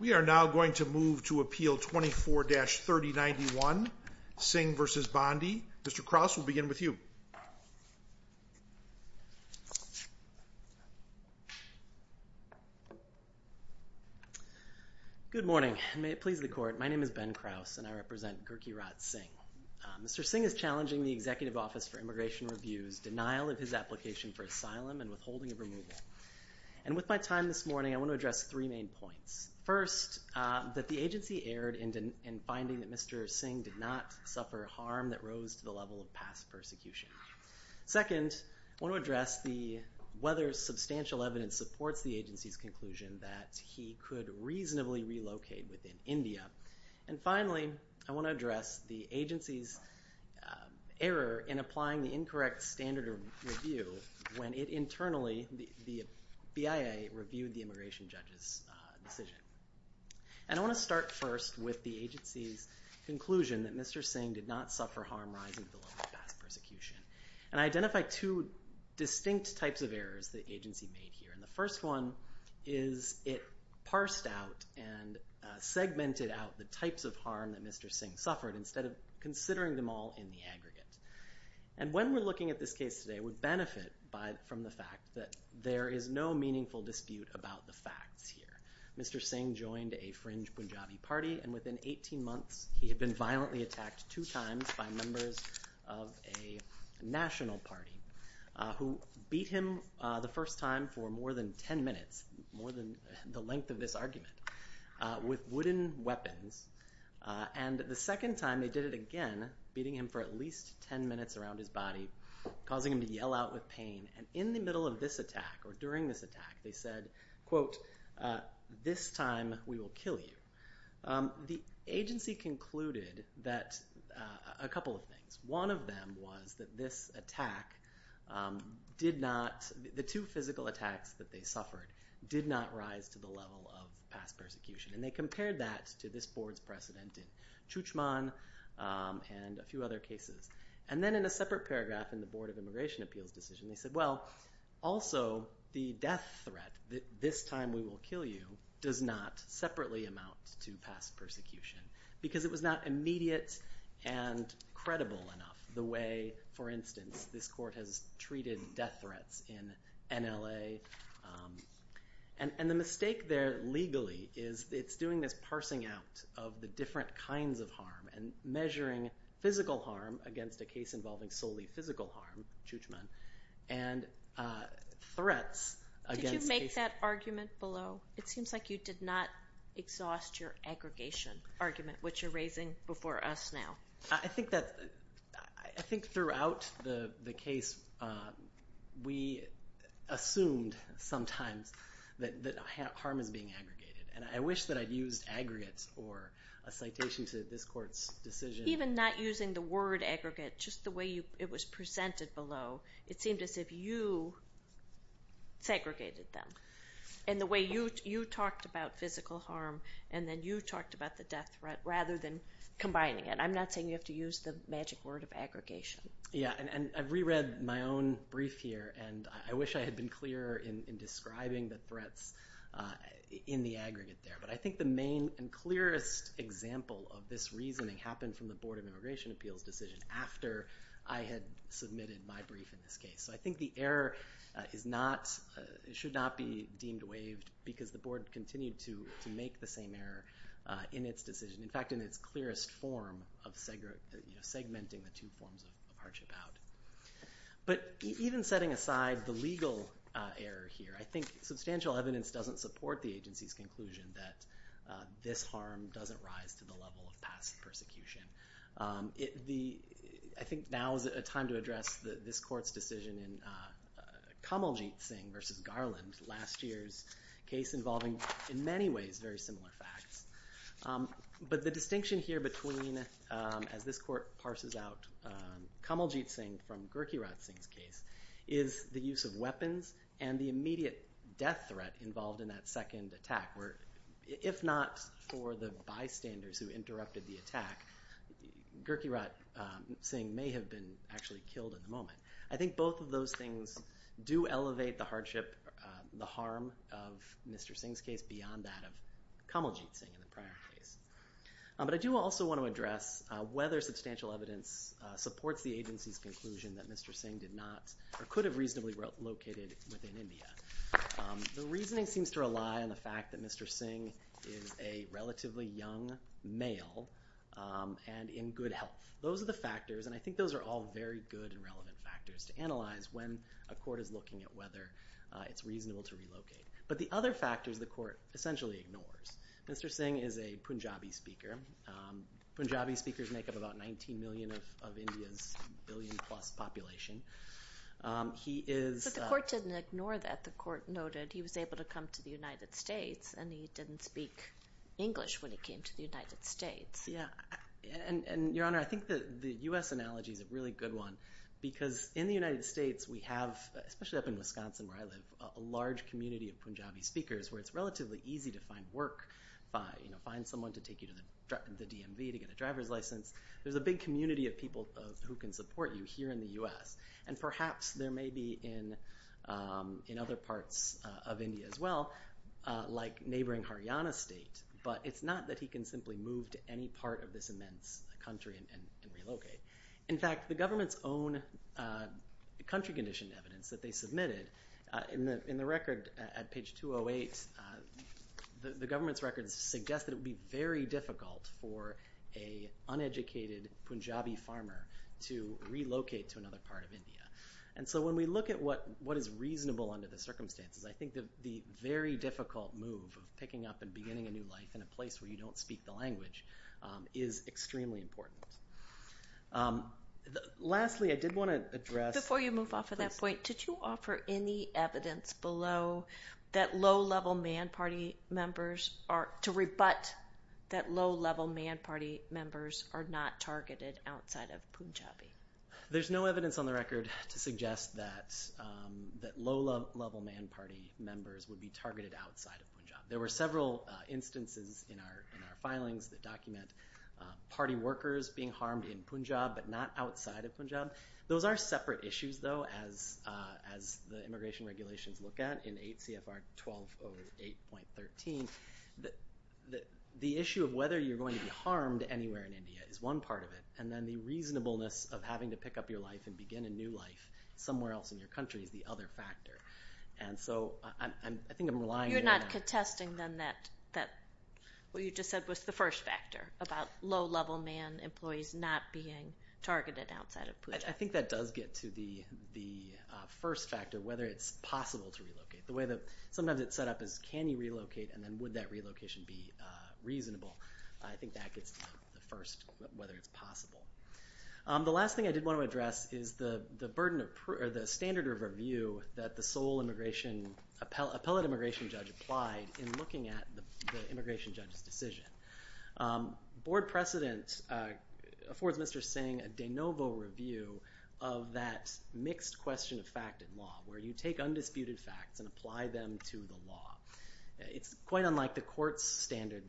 We are now going to move to appeal 24-3091 Singh v. Bondi. Mr. Krause will begin with you. Good morning. May it please the court, my name is Ben Krause and I represent Gurkirat Singh. Mr. Singh is challenging the Executive Office for Immigration Review's denial of his application for asylum and withholding of removal. And with my time this morning, I want to address three main points. First, that the agency erred in finding that Mr. Singh did not suffer harm that rose to the level of past persecution. Second, I want to address whether substantial evidence supports the agency's conclusion that he could reasonably relocate within India. And finally, I want to address the agency's error in applying the incorrect standard review when it internally, the BIA, reviewed the immigration judge's decision. And I want to start first with the agency's conclusion that Mr. Singh did not suffer harm rising to the level of past persecution. And I identify two distinct types of errors the agency made here. And the first one is it parsed out and segmented out the types of harm that Mr. Singh suffered instead of considering them all in the aggregate. And when we're looking at this case today, we benefit from the fact that there is no meaningful dispute about the facts here. Mr. Singh joined a fringe Punjabi party, and within 18 months, he had been violently attacked two times by members of a national party who beat him the first time for more than 10 minutes, more than the length of this argument, with wooden weapons. And the second time, they did it again, beating him for at least 10 minutes around his body, causing him to yell out with pain. And in the middle of this attack or during this attack, they said, quote, this time we will kill you. The agency concluded that a couple of things. One of them was that this attack did not, the two physical attacks that they suffered did not rise to the level of past persecution. And they compared that to this board's precedent in Chuchman and a few other cases. And then in a separate paragraph in the Board of Immigration Appeals decision, they said, well, also the death threat, this time we will kill you, does not separately amount to past persecution because it was not immediate and credible enough the way, for instance, this court has treated death threats in NLA. And the mistake there legally is it's doing this parsing out of the different kinds of harm and measuring physical harm against a case involving solely physical harm, Chuchman, and threats against cases. Did you make that argument below? It seems like you did not exhaust your aggregation argument, which you're raising before us now. I think that, I think throughout the case, we assumed sometimes that harm is being aggregated. And I wish that I'd used aggregates or a citation to this court's decision. Even not using the word aggregate, just the way it was presented below, it seemed as if you segregated them. And the way you talked about physical harm and then you talked about the death threat rather than combining it. I'm not saying you have to use the magic word of aggregation. Yeah, and I've reread my own brief here, and I wish I had been clearer in describing the threats in the aggregate there. But I think the main and clearest example of this reasoning happened from the Board of Immigration Appeals' decision after I had submitted my brief in this case. So I think the error is not, should not be deemed waived because the board continued to make the same error in its decision. In fact, in its clearest form of segmenting the two forms of hardship out. But even setting aside the legal error here, I think substantial evidence doesn't support the agency's conclusion that this harm doesn't rise to the level of past persecution. I think now is a time to address this court's decision in Kamaljeet Singh versus Garland, last year's case involving in many ways very similar facts. But the distinction here between, as this court parses out Kamaljeet Singh from Gurkirat Singh's case, is the use of weapons and the immediate death threat involved in that second attack. Where if not for the bystanders who interrupted the attack, Gurkirat Singh may have been actually killed in the moment. I think both of those things do elevate the hardship, the harm of Mr. Singh's case beyond that of Kamaljeet Singh in the prior case. But I do also want to address whether substantial evidence supports the agency's conclusion that Mr. Singh did not or could have reasonably relocated within India. The reasoning seems to rely on the fact that Mr. Singh is a relatively young male and in good health. Those are the factors, and I think those are all very good and relevant factors to analyze when a court is looking at whether it's reasonable to relocate. But the other factors the court essentially ignores. Mr. Singh is a Punjabi speaker. Punjabi speakers make up about 19 million of India's billion-plus population. He is... But the court didn't ignore that. The court noted he was able to come to the United States and he didn't speak English when he came to the United States. Yeah. And, Your Honor, I think the U.S. analogy is a really good one because in the United where it's relatively easy to find work, find someone to take you to the DMV to get a driver's license, there's a big community of people who can support you here in the U.S. And perhaps there may be in other parts of India as well, like neighboring Haryana state, but it's not that he can simply move to any part of this immense country and relocate. In fact, the government's own country condition evidence that they submitted in the record at page 208, the government's records suggest that it would be very difficult for an uneducated Punjabi farmer to relocate to another part of India. And so when we look at what is reasonable under the circumstances, I think the very difficult move of picking up and beginning a new life in a place where you don't speak the language is extremely important. Lastly, I did want to address... Before you move off of that point, did you offer any evidence below that low-level man party members are...to rebut that low-level man party members are not targeted outside of Punjabi? There's no evidence on the record to suggest that low-level man party members would be targeted outside of Punjab. There were several instances in our filings that document party workers being harmed in Punjab, but not outside of Punjab. Those are separate issues, though, as the immigration regulations look at in 8 CFR 1208.13. The issue of whether you're going to be harmed anywhere in India is one part of it, and then the reasonableness of having to pick up your life and begin a new life somewhere else in your country is the other factor. And so I think I'm relying... You're not contesting, then, that...what you just said was the first factor about low-level man employees not being targeted outside of Punjab. I think that does get to the first factor, whether it's possible to relocate. The way that sometimes it's set up is, can you relocate, and then would that relocation be reasonable? I think that gets to the first, whether it's possible. The last thing I did want to address is the burden of...or the standard of review that the sole appellate immigration judge applied in looking at the immigration judge's decision. Board precedent affords Mr. Singh a de novo review of that mixed question of fact in law, where you take undisputed facts and apply them to the law. It's quite unlike the court's standard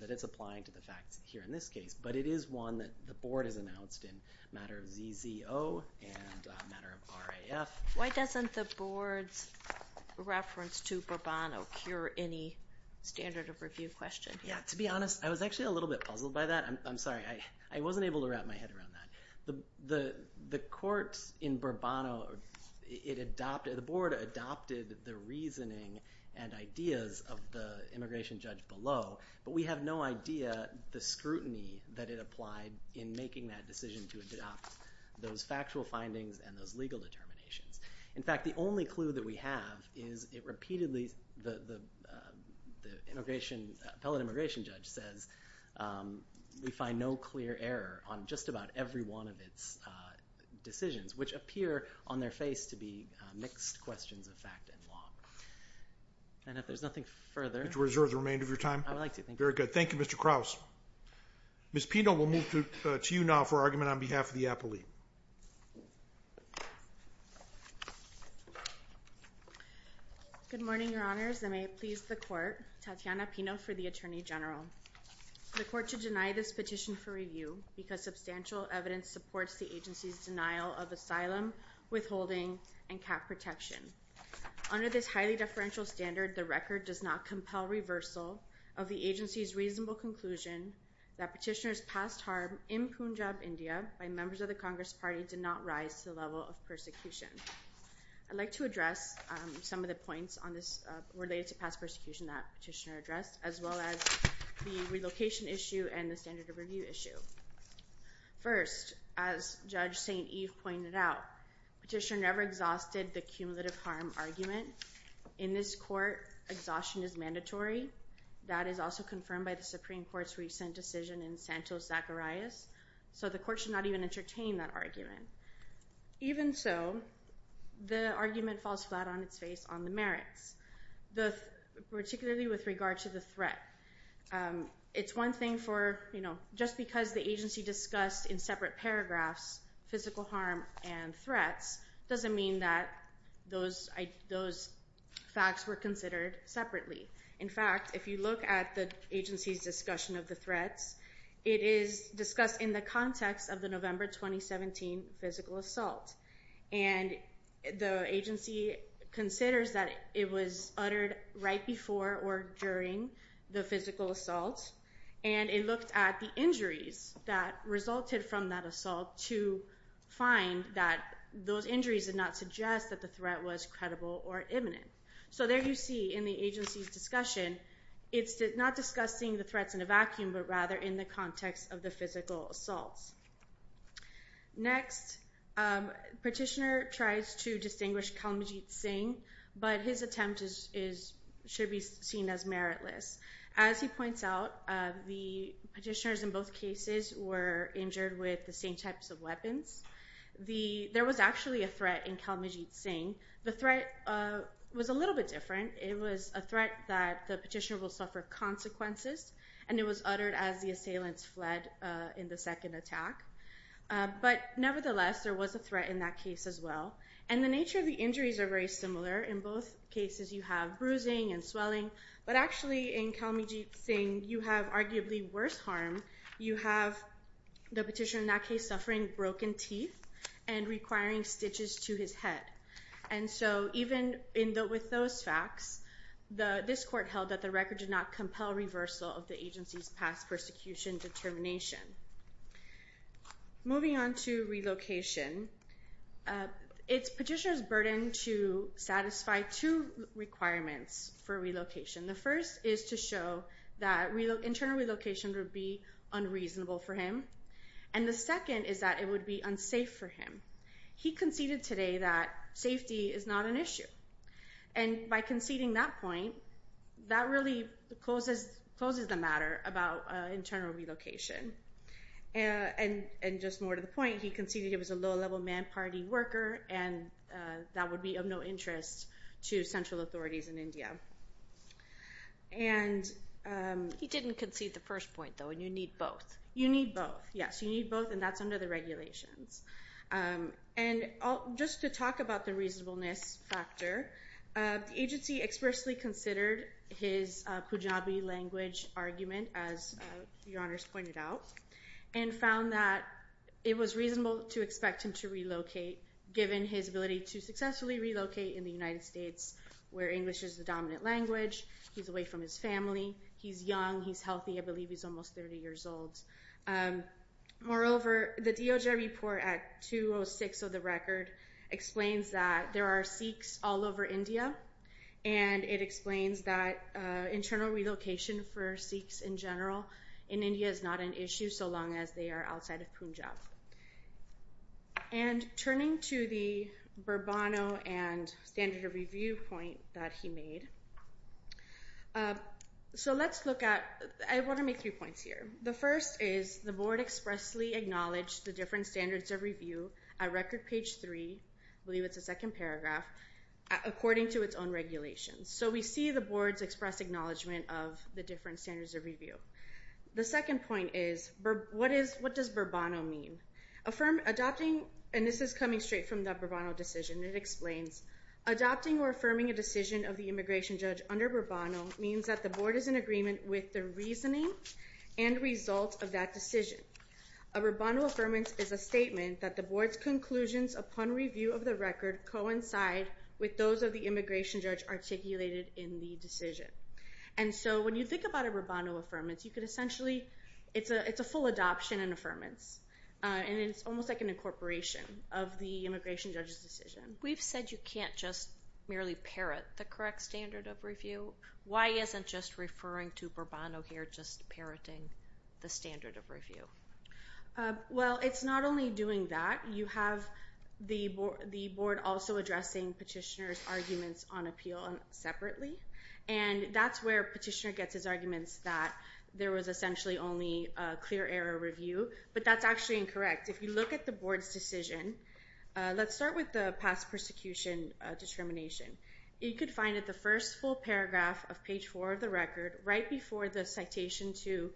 that it's applying to the facts here in this case, but it is one that the board has announced in a matter of ZZO and a matter of RAF. Why doesn't the board's reference to Burban occur any standard of review question? To be honest, I was actually a little bit puzzled by that. I'm sorry. I wasn't able to wrap my head around that. The court in Burbano, the board adopted the reasoning and ideas of the immigration judge below, but we have no idea the scrutiny that it applied in making that decision to adopt those factual findings and those legal determinations. In fact, the only clue that we have is it repeatedly...the appellate immigration judge says we find no clear error on just about every one of its decisions, which appear on their face to be mixed questions of fact and law. And if there's nothing further... Would you reserve the remainder of your time? I would like to. Thank you. Very good. Thank you, Mr. Krause. Ms. Pino, we'll move to you now for argument on behalf of the appellate. Good morning, Your Honors. I may please the court. Tatiana Pino for the Attorney General. The court should deny this petition for review because substantial evidence supports the agency's denial of asylum, withholding, and cap protection. Under this highly deferential standard, the record does not compel reversal of the agency's reasonable conclusion that petitioners' past harm in Punjab, India by members of the Congress Party did not rise to the level of persecution. I'd like to address some of the points on this...related to past persecution that petitioner addressed, as well as the relocation issue and the standard of review issue. First, as Judge St. Eve pointed out, petitioner never exhausted the cumulative harm argument. In this court, exhaustion is mandatory. That is also confirmed by the Supreme Court's recent decision in Santos-Zacharias, so the court should not even entertain that argument. Even so, the argument falls flat on its face on the merits, particularly with regard to the threat. It's one thing for, you know, just because the agency discussed in separate paragraphs physical harm and threats doesn't mean that those facts were considered separately. In fact, if you look at the agency's discussion of the threats, it is discussed in the context of the November 2017 physical assault, and the agency considers that it was uttered right before or during the physical assault, and it looked at the injuries that resulted from that assault to find that those injuries did not suggest that the threat was credible or imminent. So there you see, in the agency's discussion, it's not discussing the threats in a vacuum, but rather in the context of the physical assaults. Next, petitioner tries to distinguish Kalmajit Singh, but his attempt should be seen as meritless. As he points out, the petitioners in both cases were injured with the same types of There was actually a threat in Kalmajit Singh. The threat was a little bit different. It was a threat that the petitioner will suffer consequences, and it was uttered as the assailants fled in the second attack. But nevertheless, there was a threat in that case as well, and the nature of the injuries are very similar. In both cases, you have bruising and swelling, but actually in Kalmajit Singh, you have arguably worse harm. You have the petitioner in that case suffering broken teeth and requiring stitches to his head. And so even with those facts, this court held that the record did not compel reversal of the agency's past persecution determination. Moving on to relocation, it's petitioner's burden to satisfy two requirements for relocation. The first is to show that internal relocation would be unreasonable for him, and the second is that it would be unsafe for him. He conceded today that safety is not an issue, and by conceding that point, that really closes the matter about internal relocation. And just more to the point, he conceded he was a low-level man party worker, and that would be of no interest to central authorities in India. He didn't concede the first point, though, and you need both. You need both, yes. You need both, and that's under the regulations. And just to talk about the reasonableness factor, the agency expressly considered his Pujabi language argument, as Your Honors pointed out, and found that it was reasonable to expect him to relocate, given his ability to successfully relocate in the United States, where English is the dominant language. He's away from his family. He's young. He's healthy. I believe he's almost 30 years old. Moreover, the DOJ report at 206 of the record explains that there are Sikhs all over India, and it explains that internal relocation for Sikhs in general in India is not an issue, so long as they are outside of Punjab. And turning to the Burbano and standard of review point that he made, so let's look at I want to make three points here. The first is the board expressly acknowledged the different standards of review at record page three, I believe it's the second paragraph, according to its own regulations. So we see the board's express acknowledgment of the different standards of review. The second point is, what does Burbano mean? Adopting, and this is coming straight from the Burbano decision, it explains, adopting or affirming a decision of the immigration judge under Burbano means that the board is in agreement with the reasoning and result of that decision. A Burbano affirmance is a statement that the board's conclusions upon review of the record coincide with those of the immigration judge articulated in the decision. And so when you think about a Burbano affirmance, you could essentially, it's a full adoption and affirmance, and it's almost like an incorporation of the immigration judge's decision. We've said you can't just merely parrot the correct standard of review. Why isn't just referring to Burbano here just parroting the standard of review? Well, it's not only doing that. You have the board also addressing Petitioner's arguments on appeal separately, and that's where Petitioner gets his arguments that there was essentially only a clear error review, but that's actually incorrect. If you look at the board's decision, let's start with the past persecution determination. You could find that the first full paragraph of page 4 of the record, right before the citation to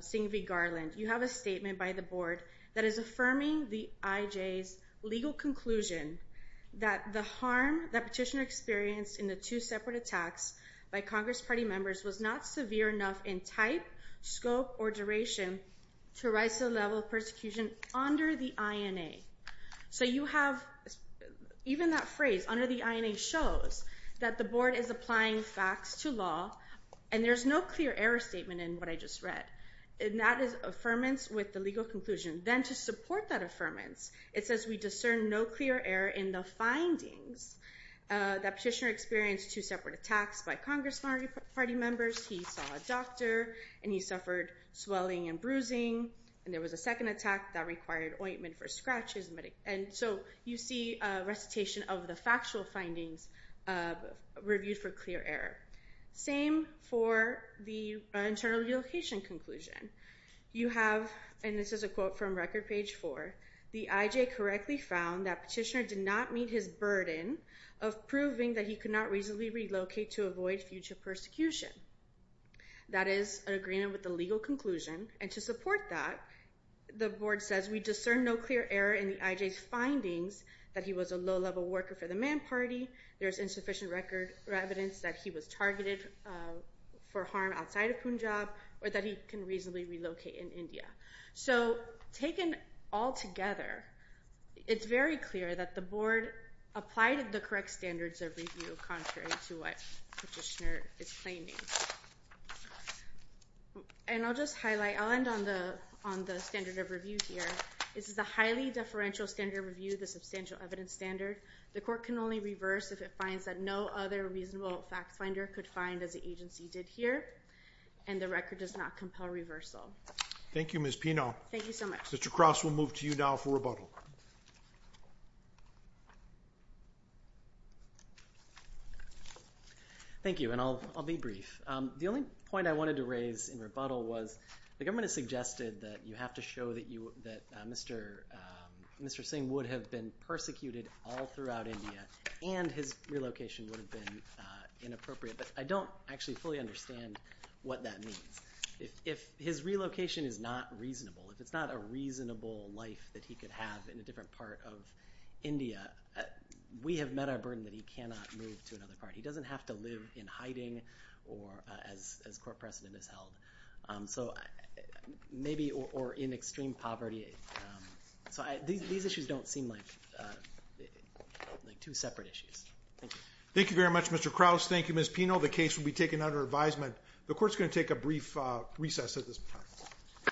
Singh v. Garland, you have a statement by the board that is affirming the IJ's legal conclusion that the harm that Petitioner experienced in the two separate attacks by Congress party members was not severe enough in type, scope, or duration to rise to the level of persecution under the INA. So you have even that phrase, under the INA, shows that the board is applying facts to law, and there's no clear error statement in what I just read. And that is affirmance with the legal conclusion. Then to support that affirmance, it says we discern no clear error in the findings that Petitioner experienced two separate attacks by Congress party members. He saw a doctor, and he suffered swelling and bruising, and there was a second attack that required ointment for scratches. And so you see a recitation of the factual findings reviewed for clear error. Same for the internal relocation conclusion. You have, and this is a quote from record page 4, the IJ correctly found that Petitioner did not meet his burden of proving that he could not reasonably relocate to avoid future persecution. That is an agreement with the legal conclusion, and to support that, the board says we discern no clear error in the IJ's findings that he was a low-level worker for the Mann party, there is insufficient evidence that he was targeted for harm outside of Punjab, or that he can reasonably relocate in India. So taken all together, it's very clear that the board applied the correct standards of review contrary to what Petitioner is claiming. And I'll just highlight, I'll end on the standard of review here. This is a highly deferential standard of review, the substantial evidence standard. The court can only reverse if it finds that no other reasonable facts finder could find, as the agency did here, and the record does not compel reversal. Thank you, Ms. Pino. Thank you so much. Mr. Cross, we'll move to you now for rebuttal. Thank you, and I'll be brief. The only point I wanted to raise in rebuttal was the government has suggested that you have to show that Mr. Singh would have been persecuted all throughout India and his relocation would have been inappropriate. But I don't actually fully understand what that means. If his relocation is not reasonable, if it's not a reasonable life that he could have in a different part of India, we have met our burden that he cannot move to another part. He doesn't have to live in hiding as court precedent has held. Maybe or in extreme poverty. These issues don't seem like two separate issues. Thank you. Thank you very much, Mr. Cross. Thank you, Ms. Pino. The case will be taken under advisement. The court is going to take a brief recess at this time.